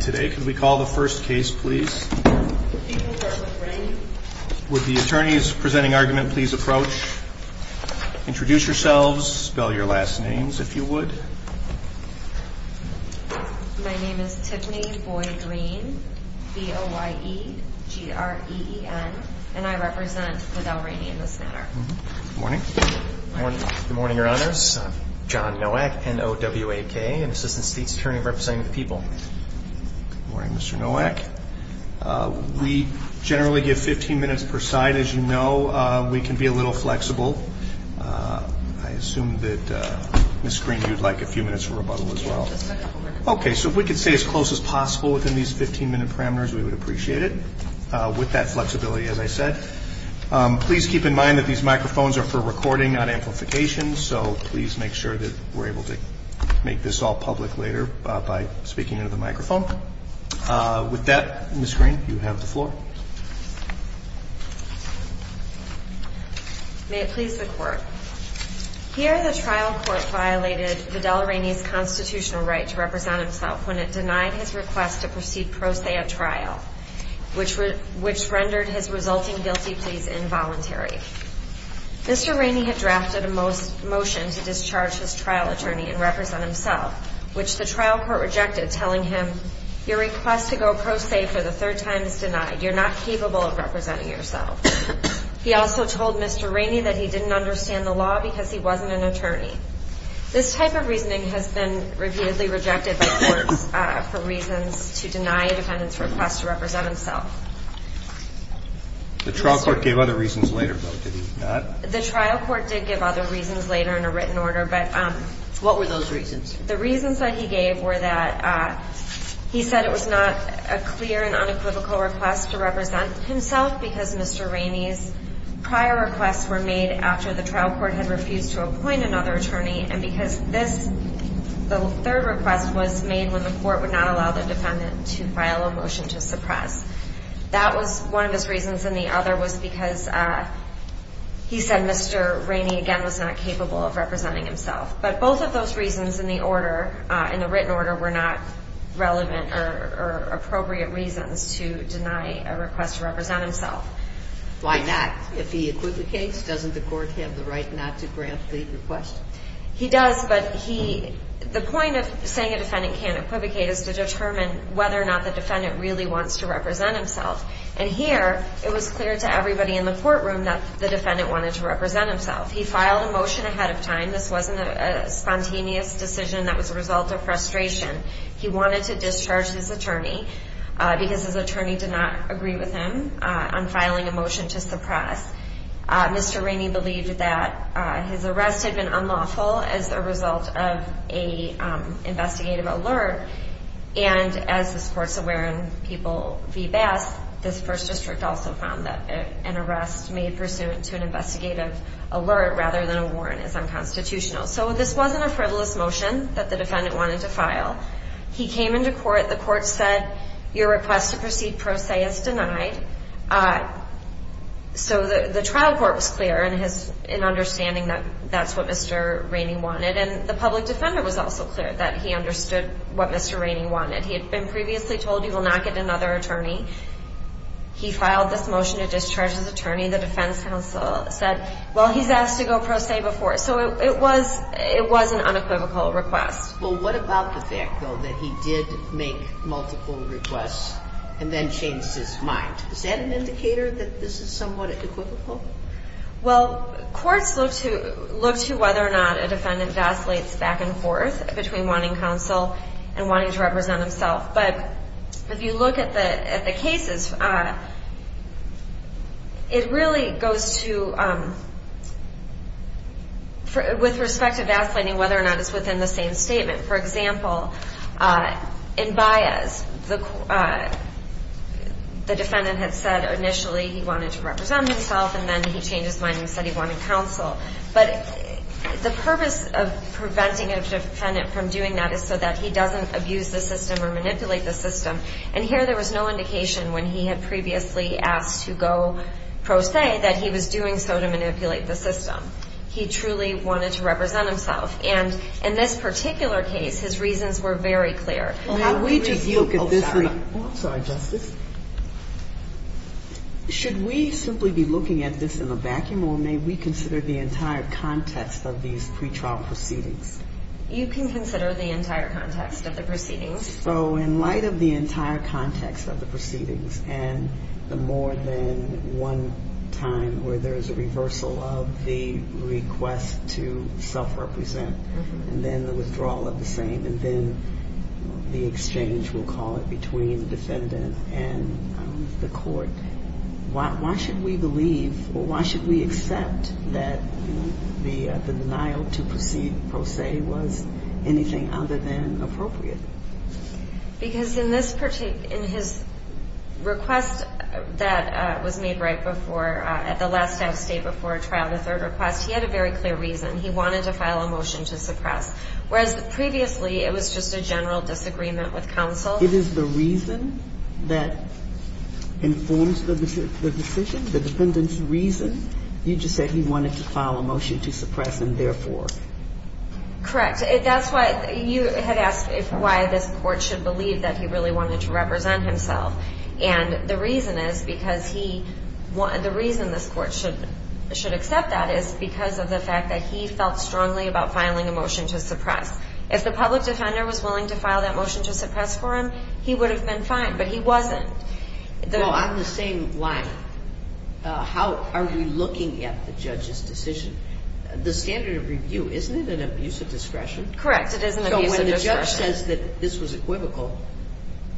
today. Can we call the first case please? Would the attorneys presenting argument please approach, introduce yourselves, spell your last names if you would. My name is Tiffany Boyd-Green, B-O-Y-E-G-R-E-E-N, and I represent Adele Rainey in this matter. Good morning. Good morning, Your Honors. John Nowak, N-O-W-A-K, and Assistant State's Attorney representing the people. Good morning, Mr. Nowak. We generally give 15 minutes per side. As you know, we can be a little flexible. I assume that Ms. Green, you'd like a few minutes for rebuttal as well. Okay, so if we could stay as close as possible within these 15-minute parameters, we would appreciate it. With that flexibility, as I said. Please keep in mind that these microphones are for recording, not amplification, so please make sure that we're able to make this all public later by speaking into the microphone. With that, Ms. Green, you have the floor. May it please the Court. Here the trial court violated Adele Rainey's constitutional right to represent himself when it denied his request to proceed pro se at trial, which rendered his resulting guilty pleas involuntary. Mr. Rainey had drafted a motion to discharge his trial attorney and represent himself, which the trial court rejected, telling him, your request to go pro se for the third time is denied. You're not capable of representing yourself. He also told Mr. Rainey that he didn't understand the law because he wasn't an attorney. This type of reasoning has been repeatedly rejected by courts for reasons to deny a defendant's request to represent himself. The trial court gave other reasons later, though, did it not? The trial court did give other reasons later in a written order, but... What were those reasons? The reasons that he gave were that he said it was not a clear and unequivocal request to represent himself because Mr. Rainey's prior requests were made after the trial court had refused to appoint another attorney and because this, the third request was made when the court would not allow the defendant to file a motion to suppress. That was one of his reasons, and the other was because he said Mr. Rainey, again, was not capable of representing himself. But both of those reasons in the order, in the written order, were not relevant or appropriate reasons to deny a request to represent himself. Why not? If he acquits the case, doesn't the court have the right not to grant the request? He does, but he, the point of saying a defendant can't equivocate is to determine whether or not the defendant really wants to represent himself. And here, it was clear to everybody in the courtroom that the defendant wanted to represent himself. He filed a motion ahead of time. This wasn't a spontaneous decision that was a result of frustration. He wanted to discharge his attorney because his attorney did not agree with him on filing a motion to suppress. Mr. Rainey believed that his arrest had been unlawful as a result of an investigative alert. And as this Court's aware, and people be best, this First District also found that an arrest made pursuant to an investigative alert rather than a warrant is unconstitutional. So this wasn't a frivolous motion that the defendant wanted to file. He came into court. The court said, your request to proceed pro se is denied. So the trial court was clear in understanding that that's what Mr. Rainey wanted. And the public defender was also clear that he understood what Mr. Rainey wanted. He had been previously told he will not get another attorney. He filed this motion to discharge his attorney. The defense counsel said, well, he's asked to go pro se before. So it was, it was an unequivocal request. Well, what about the fact, though, that he did make multiple requests and then changed his mind? Is that an indicator that this is somewhat equivocal? Well, courts look to, look to whether or not a defendant vacillates back and forth between wanting counsel and wanting to represent himself. But if you look at the, at the cases, it really goes to, with respect to vacillating whether or not it's within the same statement. For example, the defendant had said initially he wanted to represent himself and then he changed his mind and said he wanted counsel. But the purpose of preventing a defendant from doing that is so that he doesn't abuse the system or manipulate the system. And here there was no indication when he had previously asked to go pro se that he was doing so to manipulate the system. He truly wanted to represent himself. And in this particular case, his reasons were very clear. How do we just look at this? Oh, sorry. Oh, I'm sorry, Justice. Should we simply be looking at this in a vacuum, or may we consider the entire context of these pretrial proceedings? You can consider the entire context of the proceedings. So in light of the entire context of the proceedings and the more than one time where there is a reversal of the request to self-represent and then the withdrawal of the same and then the exchange, we'll call it, between the defendant and the court, why should we believe or why should we accept that the denial to proceed pro se was anything other than appropriate? Because in this particular – in his request that was made right before – at the last time of state before a trial, the third request, he had a very clear reason. He wanted to file a motion to suppress. Whereas previously it was just a general disagreement with counsel. It is the reason that informs the decision, the defendant's reason. You just said he wanted to file a motion to suppress and therefore. Correct. That's why you had asked why this court should believe that he really wanted to represent himself. And the reason is because he – the reason this court should accept that is because of the fact that he felt strongly about filing a motion to suppress. If the public defender was willing to file that motion to suppress for him, he would have been fine. But he wasn't. Well, on the same line, how are we looking at the judge's decision? The standard of review, isn't it an abuse of discretion? Correct. It is an abuse of discretion. So when the judge says that this was equivocal,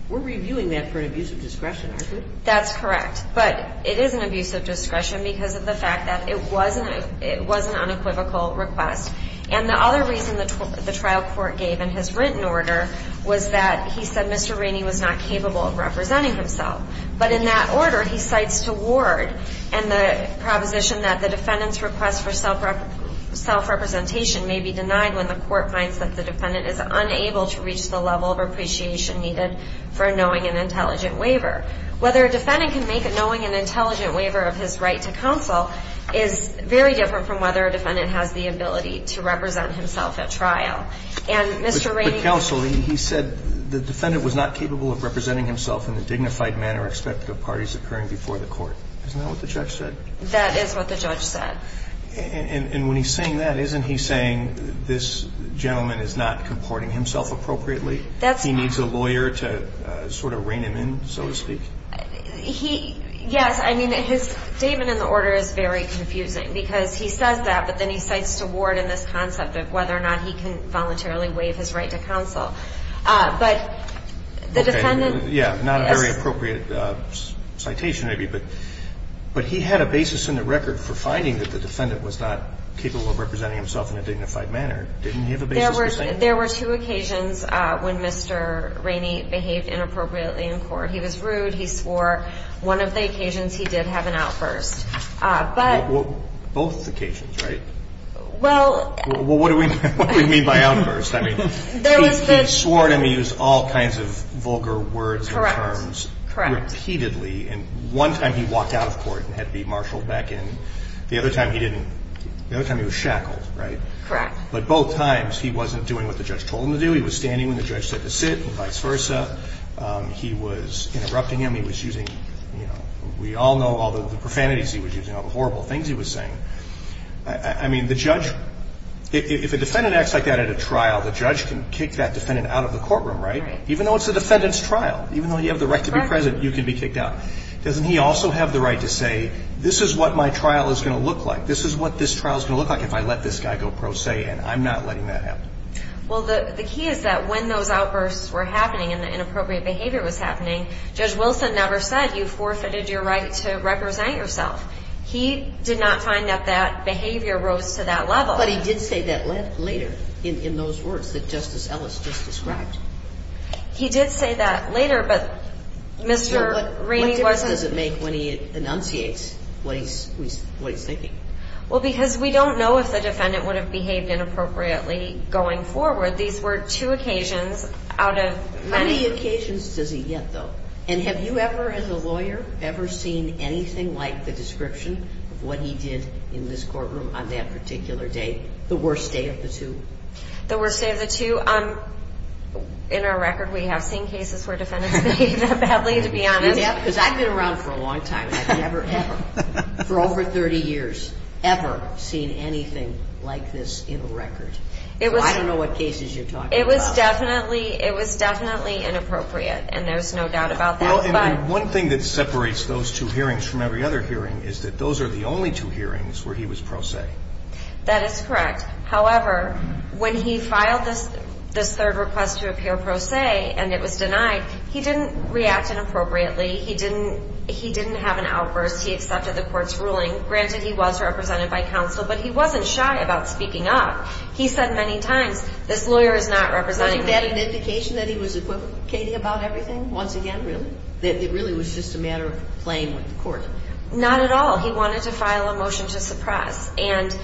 we're reviewing that for an abuse of discretion, aren't we? That's correct. But it is an abuse of discretion because of the fact that it was an unequivocal request. And the other reason the trial court gave in his written order was that he said Mr. Rainey was not capable of representing himself. But in that order, he cites to Ward and the proposition that the defendant's request for self-representation may be denied when the court finds that the defendant is unable to reach the level of appreciation needed for knowing an intelligent waiver. Whether a defendant can make it knowing an intelligent waiver of his right to counsel is very different from whether a defendant has the ability to represent himself at trial. And Mr. Rainey – But counsel, he said the defendant was not capable of representing himself in the dignified manner expected of parties occurring before the court. Isn't that what the judge said? That is what the judge said. And when he's saying that, isn't he saying this gentleman is not comporting himself appropriately? That's right. He needs a lawyer to sort of rein him in, so to speak? He – yes. I mean, his statement in the order is very confusing because he says that, but then he cites to Ward in this concept of whether or not he can voluntarily waive his right to counsel. But the defendant – Yeah. Not a very appropriate citation, maybe, but he had a basis in the record for finding that the defendant was not capable of representing himself in a dignified manner. Didn't he have a basis for saying that? There were two occasions when Mr. Rainey behaved inappropriately in court. He was rude. He swore. One of the occasions, he did have an outburst. But – Well, both occasions, right? Well – Well, what do we mean by outburst? I mean, he swore and he used all kinds of vulgar words and terms – Correct. Correct. Repeatedly. And one time, he walked out of court and had to be marshaled back in. The other time, he didn't. The other time, he was shackled, right? Correct. But both times, he wasn't doing what the judge told him to do. He was standing when the judge said to sit and vice versa. He was interrupting him. He was using, you know – we all know all the profanities he was using, all the horrible things he was saying. I mean, the judge – if a defendant acts like that at a trial, the judge can kick that defendant out of the courtroom, right? Right. You know, it's a defendant's trial. Even though you have the right to be present, you can be kicked out. Doesn't he also have the right to say, this is what my trial is going to look like. This is what this trial is going to look like if I let this guy go pro se, and I'm not letting that happen. Well, the key is that when those outbursts were happening and the inappropriate behavior was happening, Judge Wilson never said, you forfeited your right to represent yourself. He did not find that that behavior rose to that level. But he did say that later in those words that Justice Ellis just described. He did say that later, but Mr. Rainey wasn't – What difference does it make when he enunciates what he's thinking? Well, because we don't know if the defendant would have behaved inappropriately going forward. These were two occasions out of many – How many occasions does he get, though? And have you ever, as a lawyer, ever seen anything like the description of what he did in this courtroom on that particular day, the worst day of the two? The worst day of the two? In our record, we have seen cases where defendants behaved that badly, to be honest. Yeah, because I've been around for a long time, and I've never ever, for over 30 years, ever seen anything like this in a record. So I don't know what cases you're talking about. It was definitely – it was definitely inappropriate, and there's no doubt about that. Well, and the one thing that separates those two hearings from every other hearing is that those are the only two hearings where he was pro se. That is correct. However, when he filed this third request to appear pro se, and it was denied, he didn't react inappropriately. He didn't have an outburst. He accepted the court's ruling. Granted, he was represented by counsel, but he wasn't shy about speaking up. He said many times, this lawyer is not representing me. Was that an indication that he was equivocating about everything once again, really? That it really was just a matter of playing with the court? Not at all. He wanted to file a motion to suppress, and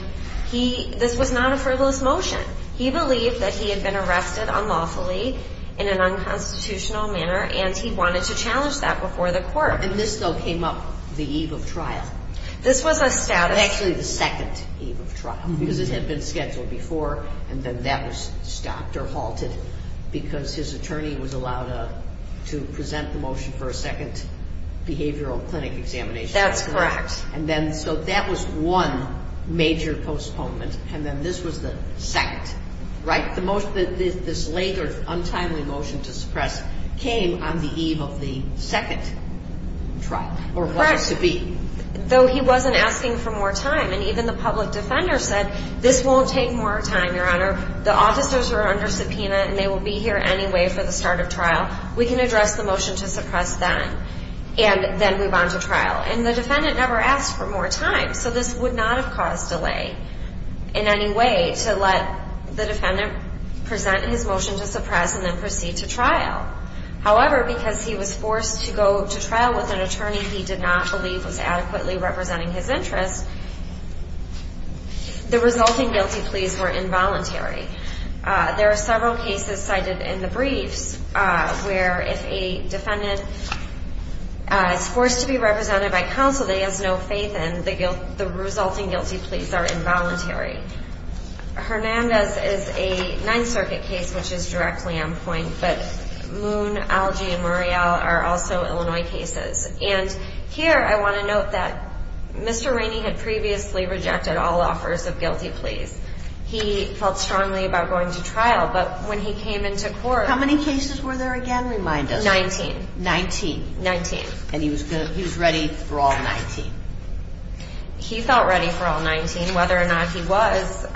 he – this was not a frivolous motion. He believed that he had been arrested unlawfully in an unconstitutional manner, and he wanted to challenge that before the court. And this, though, came up the eve of trial? This was a status – Actually, the second eve of trial, because it had been scheduled before, and then that was stopped or halted because his attorney was allowed to present the examination. That's correct. And then, so that was one major postponement, and then this was the second, right? The most – this later, untimely motion to suppress came on the eve of the second trial, or was it to be? Though he wasn't asking for more time, and even the public defender said, this won't take more time, Your Honor. The officers are under subpoena, and they will be here anyway for the start of trial. We can address the motion to trial. And the defendant never asked for more time, so this would not have caused delay in any way to let the defendant present his motion to suppress and then proceed to trial. However, because he was forced to go to trial with an attorney he did not believe was adequately representing his interests, the resulting guilty pleas were involuntary. There are several cases cited in the briefs where if a defendant is forced to be represented by counsel that he has no faith in, the resulting guilty pleas are involuntary. Hernandez is a Ninth Circuit case which is directly on point, but Moon, Algie, and Muriel are also Illinois cases. And here, I want to note that Mr. Rainey had previously rejected all offers of guilty pleas. He felt strongly about going to trial, but when he came into court – How many cases were there again, remind us? Nineteen. Nineteen. Nineteen. And he was ready for all nineteen. He felt ready for all nineteen. Whether or not he was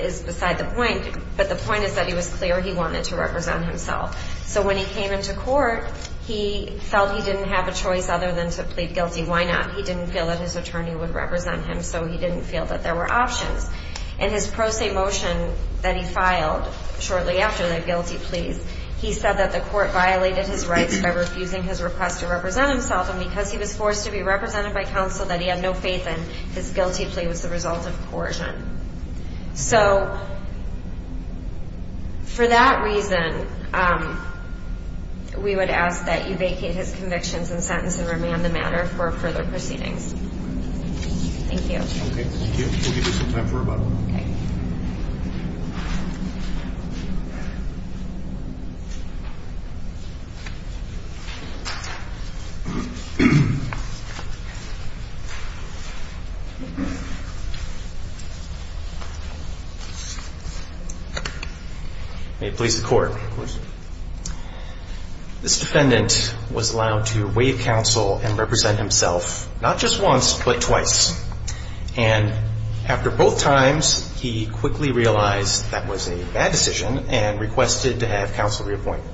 is beside the point, but the point is that he was clear he wanted to represent himself. So when he came into court, he felt he didn't have a choice other than to plead guilty. Why not? He didn't feel that his attorney would represent him, so he didn't feel that there were options. In his pro se motion that he filed shortly after the guilty pleas, he said that the court violated his rights by refusing his request to represent himself, and because he was forced to be represented by counsel that he had no faith in, his guilty plea was the result of coercion. So, for that reason, we would ask that you vacate his convictions and sentence and remand the matter for further proceedings. Thank you. Okay, thank you. We'll give you some time for rebuttal. Okay. May it please the court. Of course. This defendant was allowed to waive counsel and represent himself not just once, but twice. And after both times, he quickly realized that was a bad decision and requested to have counsel reappointed.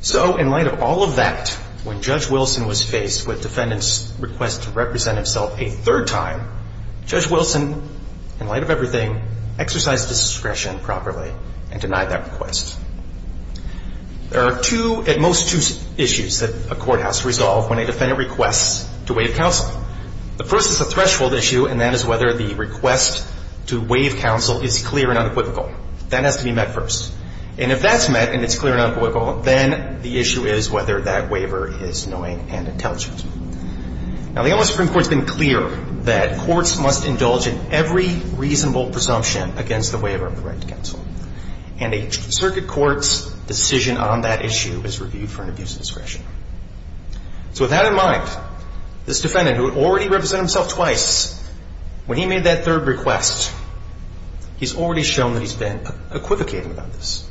So, in light of all of that, when Judge Wilson was faced with defendant's request to represent himself a third time, Judge Wilson, in light of everything, exercised discretion properly and denied that request. There are two, at most two, issues that a courthouse resolve when a defendant requests to waive counsel. The first is a threshold issue, and that is whether the request to waive counsel is clear and unequivocal. That has to be met first. And if that's met and it's clear and unequivocal, then the issue is whether that waiver is knowing and intelligent. Now, the Ombudsman Supreme Court has been clear that courts must indulge in every reasonable presumption against the waiver of the right to counsel. And a circuit court's decision on that issue is reviewed for an abuse of discretion. So, with that in mind, this defendant, who had already represented himself twice, when he made that third request, he's already shown that he's been equivocating about this.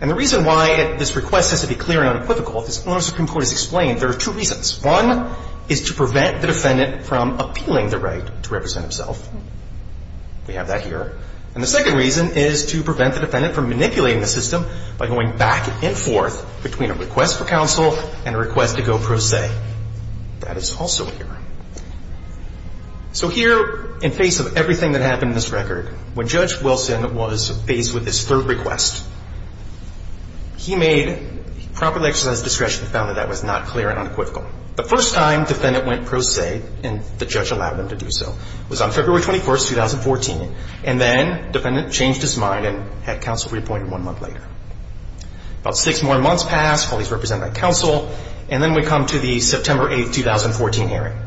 And the reason why this request has to be clear and unequivocal, this Ombudsman Supreme Court has explained, there are two reasons. One is to prevent the defendant from appealing the right to represent himself. We have that here. And the second reason is to prevent the defendant from manipulating the system by going back and forth between a request for counsel and a request to go pro se. That is also here. So here, in face of everything that happened in this record, when Judge Wilson was faced with this third request, he made, properly exercised discretion, found that that was not clear and unequivocal. The first time defendant went pro se, and the judge allowed him to do so, was on February 21st, 2014. And then defendant changed his mind and had counsel reappointed one month later. About six more months passed while he's represented by counsel, and then we come to the September 8th, 2014 hearing.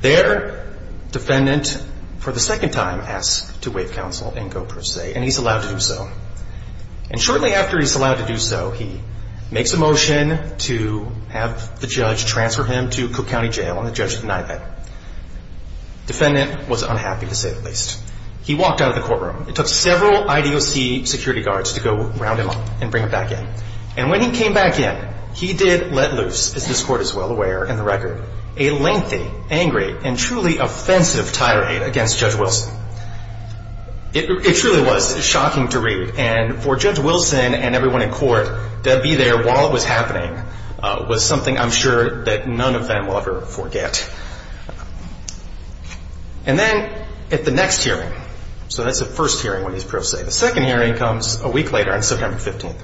There, defendant, for the second time, asked to waive counsel and go pro se, and he's allowed to do so. And shortly after he's allowed to do so, he makes a motion to have the judge transfer him to Cook County Jail, and the judge denied that. Defendant was unhappy, to say the least. He walked out of the courtroom. It took several IDOC security guards to go around him and bring him back in. And when he came back in, he did let loose, as this court is well aware in the record, a lengthy, angry, and truly offensive tirade against Judge Wilson. It truly was shocking to read, and for Judge Wilson and everyone in court to be there while it was happening was something I'm sure that none of them will ever forget. And then at the next hearing, so that's the first hearing when he's pro se. The second hearing comes a week later on September 15th.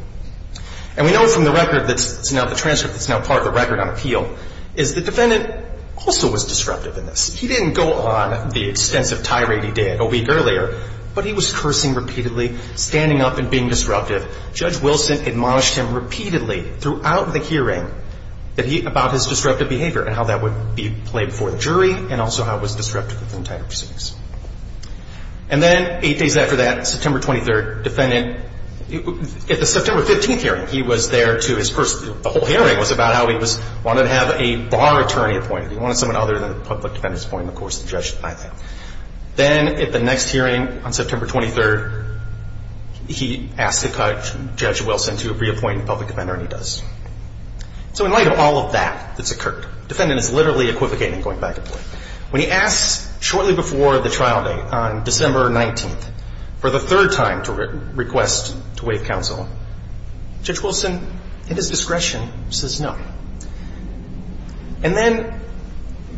And we know from the record that's now the transcript that's now part of the record on appeal, is the defendant also was disruptive in this. He didn't go on the extensive tirade he did a week earlier, but he was cursing repeatedly, standing up and being disruptive. Judge Wilson admonished him repeatedly throughout the hearing about his disruptive behavior and how that would be played before the jury and also how it was disruptive with the entire proceedings. And then eight days after that, September 23rd, defendant, at the September 15th hearing, he was there to his first, the whole hearing was about how he wanted to have a bar attorney appointed. He wanted someone other than the public defendants appointed, of course, the judge, I think. Then at the next hearing on September 23rd, he asked Judge Wilson to reappoint the public defender, and he does. So in light of all of that that's occurred, the defendant is literally equivocating and going back and forth. When he asked shortly before the trial date, on December 19th, for the third time to request to waive counsel, Judge Wilson, at his discretion, says no. And then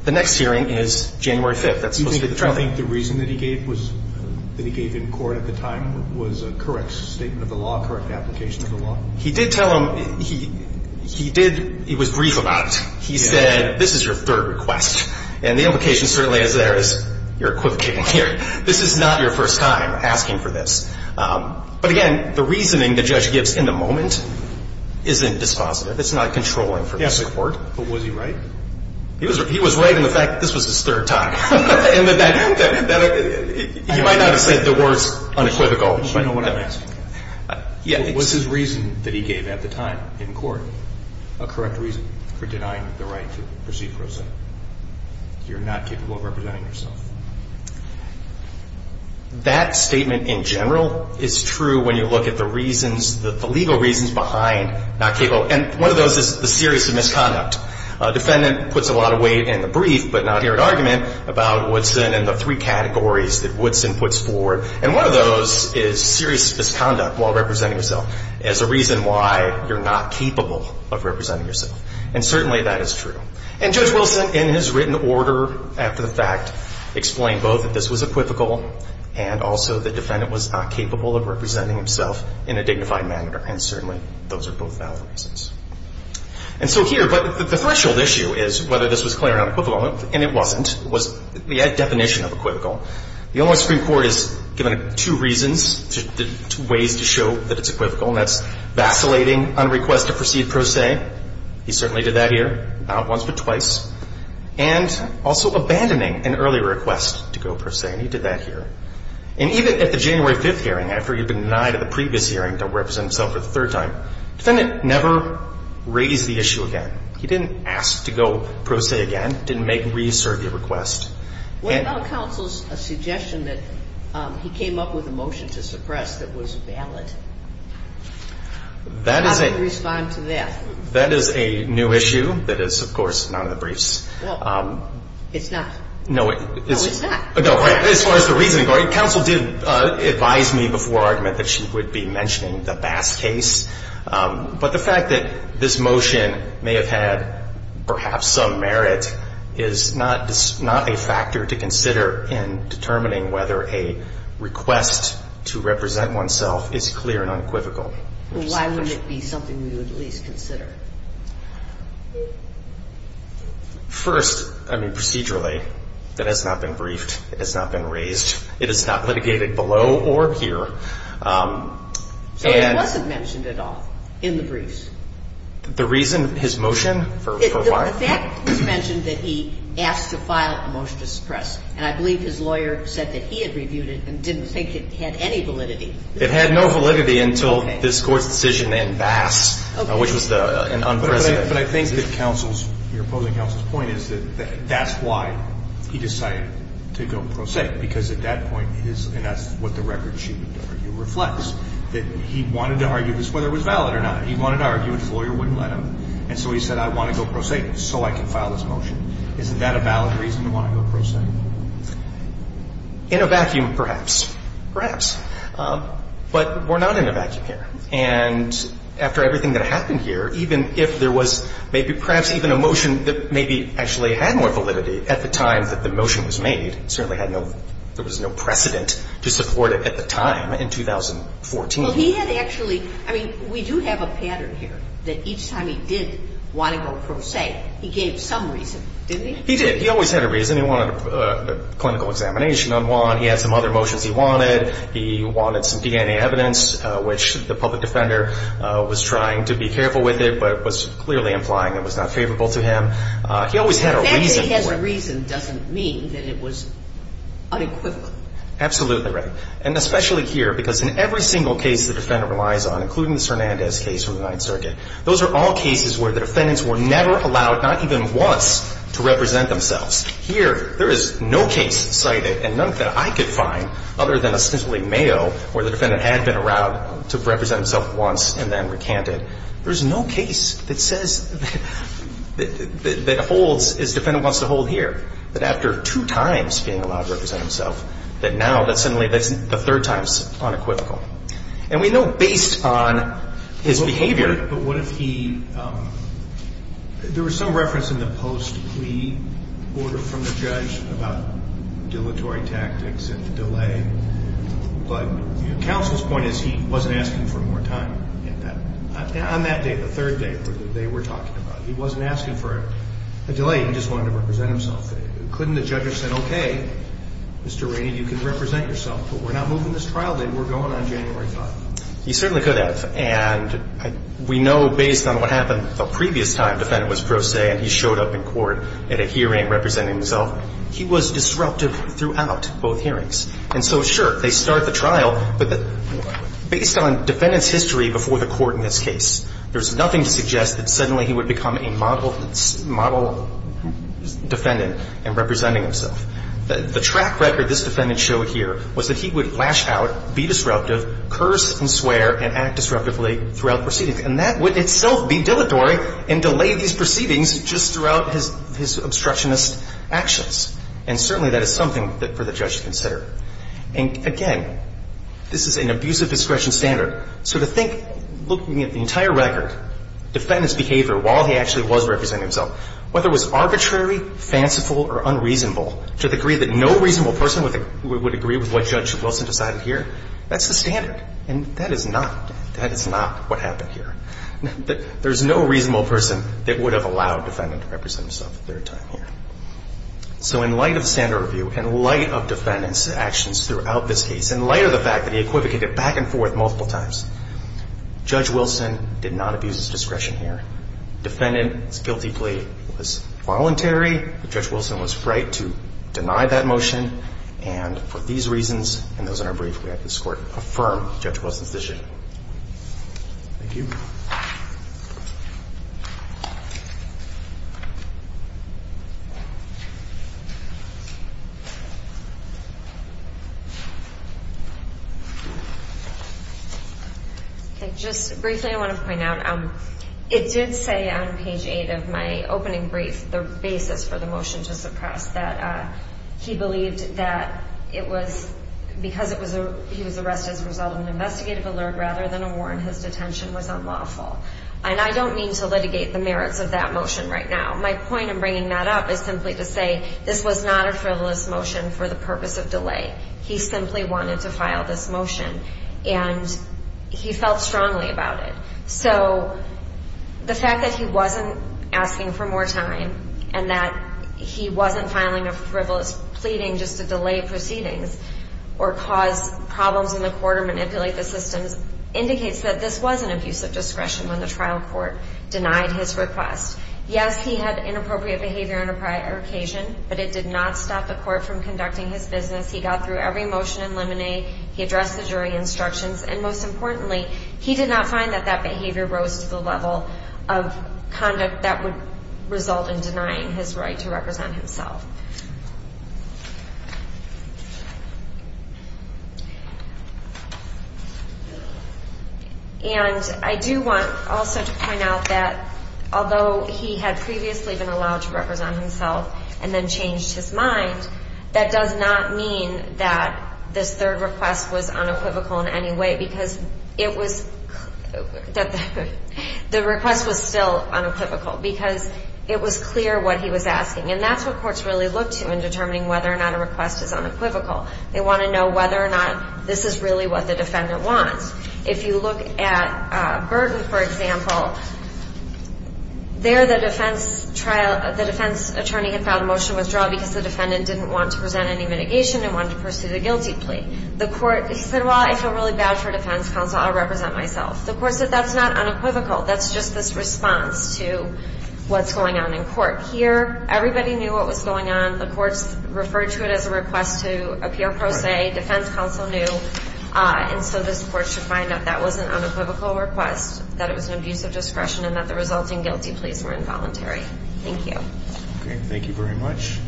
the next hearing is January 5th. That's supposed to be the trial date. Do you think the reason that he gave in court at the time was a correct statement of the law, correct application of the law? He did tell him, he did, he was brief about it. He said, this is your third request. And the implication certainly is there is you're equivocating here. This is not your first time asking for this. But, again, the reasoning the judge gives in the moment isn't dispositive. It's not controlling from the court. Yes, but was he right? He was right in the fact that this was his third time. And that he might not have said the words unequivocal. But what's his reason that he gave at the time in court, a correct reason for you're not capable of representing yourself? That statement in general is true when you look at the reasons, the legal reasons behind not capable. And one of those is the serious misconduct. A defendant puts a lot of weight in the brief, but not here at argument, about Woodson and the three categories that Woodson puts forward. And one of those is serious misconduct while representing yourself as a reason why you're not capable of representing yourself. And certainly that is true. And Judge Wilson, in his written order after the fact, explained both that this was equivocal and also the defendant was not capable of representing himself in a dignified manner. And certainly those are both valid reasons. And so here, but the threshold issue is whether this was clear or unequivocal. And it wasn't. It was the definition of equivocal. The Illinois Supreme Court has given it two reasons, two ways to show that it's equivocal. And that's vacillating on request to proceed pro se. He certainly did that here. Not once, but twice. And also abandoning an early request to go pro se. And he did that here. And even at the January 5th hearing, after he had been denied at the previous hearing to represent himself for the third time, the defendant never raised the issue again. He didn't ask to go pro se again. He didn't make a re-survey request. What about counsel's suggestion that he came up with a motion to suppress that was valid? How do you respond to that? That is a new issue that is, of course, not in the briefs. Well, it's not. No, it is. No, it's not. As far as the reasoning goes, counsel did advise me before argument that she would be mentioning the Bass case. But the fact that this motion may have had perhaps some merit is not a factor to consider in determining whether a request to represent oneself is clear and unequivocal. Well, why wouldn't it be something we would at least consider? First, I mean, procedurally, that has not been briefed. It has not been raised. It is not litigated below or here. So it wasn't mentioned at all in the briefs? The reason his motion for why? The fact was mentioned that he asked to file a motion to suppress. And I believe his lawyer said that he had reviewed it and didn't think it had any validity. It had no validity until this Court's decision in Bass, which was an unprecedented decision. But I think that your opposing counsel's point is that that's why he decided to go pro se because at that point, and that's what the record sheet reflects, that he wanted to argue this whether it was valid or not. He wanted to argue it. His lawyer wouldn't let him. And so he said, I want to go pro se so I can file this motion. Isn't that a valid reason to want to go pro se? In a vacuum, perhaps. Perhaps. But we're not in a vacuum here. And after everything that happened here, even if there was maybe perhaps even a motion that maybe actually had more validity at the time that the motion was made, certainly had no – there was no precedent to support it at the time in 2014. Well, he had actually – I mean, we do have a pattern here that each time he did want to go pro se, he gave some reason, didn't he? He did. He always had a reason. He wanted a clinical examination on Juan. He had some other motions he wanted. He wanted some DNA evidence, which the public defender was trying to be careful with it, but was clearly implying it was not favorable to him. He always had a reason. That he had a reason doesn't mean that it was unequivocal. Absolutely right. And especially here, because in every single case the defendant relies on, including this Hernandez case from the Ninth Circuit, those are all cases where the defendants were never allowed, not even once, to represent themselves. Here, there is no case cited, and none that I could find, other than ostensibly Mayo, where the defendant had been allowed to represent himself once and then recanted. There's no case that says – that holds, as the defendant wants to hold here, that after two times being allowed to represent himself, that now that suddenly that's the third time is unequivocal. And we know based on his behavior – There was some reference in the post-plea order from the judge about dilatory tactics and the delay, but counsel's point is he wasn't asking for more time. On that day, the third day, they were talking about it. He wasn't asking for a delay. He just wanted to represent himself. Couldn't the judge have said, okay, Mr. Rainey, you can represent yourself, but we're not moving this trial date. We're going on January 5th. He certainly could have. And we know based on what happened the previous time the defendant was pro se and he showed up in court at a hearing representing himself, he was disruptive throughout both hearings. And so, sure, they start the trial, but based on the defendant's history before the court in this case, there's nothing to suggest that suddenly he would become a model defendant in representing himself. The track record this defendant showed here was that he would lash out, be disruptive, curse and swear and act disruptively throughout proceedings. And that would itself be dilatory and delay these proceedings just throughout his obstructionist actions. And certainly that is something for the judge to consider. And, again, this is an abusive discretion standard. So to think, looking at the entire record, defendant's behavior while he actually was representing himself, whether it was arbitrary, fanciful or unreasonable to the degree that no reasonable person would agree with what Judge Wilson decided here, that's the standard. And that is not what happened here. There's no reasonable person that would have allowed the defendant to represent himself the third time here. So in light of the standard review, in light of the defendant's actions throughout this case, in light of the fact that he equivocated back and forth multiple times, Judge Wilson did not abuse his discretion here. Defendant's guilty plea was voluntary. Judge Wilson was right to deny that motion. And for these reasons and those in our brief, we have this Court affirm Judge Wilson's decision. Thank you. Okay. Just briefly, I want to point out, it did say on page 8 of my opening brief, the basis for the motion to suppress, that he believed that it was because he was arrested as a result of an investigative alert rather than a warrant, his detention was unlawful. And I don't mean to litigate the merits of that motion right now. My point in bringing that up is simply to say this was not a frivolous motion for the purpose of delay. He simply wanted to file this motion. And he felt strongly about it. So the fact that he wasn't asking for more time and that he wasn't filing a frivolous pleading just to delay proceedings or cause problems in the court or manipulate the systems indicates that this was an abuse of discretion when the trial court denied his request. Yes, he had inappropriate behavior on occasion, but it did not stop the court from conducting his business. He got through every motion in limine. He addressed the jury instructions. And most importantly, he did not find that that behavior rose to the level of conduct that would result in denying his right to represent himself. And I do want also to point out that although he had previously been allowed to represent himself and then changed his mind, that does not mean that this third request was unequivocal in any way because it was – that the request was still unequivocal because it was clear what he was asking. And that's what courts really look to in determining whether or not a request is unequivocal. They want to know whether or not this is really what the defendant wants. If you look at Burton, for example, there the defense trial – the defense attorney had filed a motion of withdrawal because the defendant didn't want to the court – he said, well, I feel really bad for defense counsel. I'll represent myself. The court said that's not unequivocal. That's just this response to what's going on in court. Here, everybody knew what was going on. The courts referred to it as a request to appear pro se. Defense counsel knew. And so this court should find out that was an unequivocal request, that it was an abuse of discretion, and that the resulting guilty pleas were involuntary. Thank you. Okay. Thank you very much.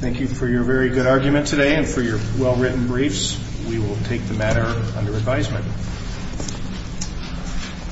Thank you for your very good argument today and for your well-written briefs. We will take the matter under advisement.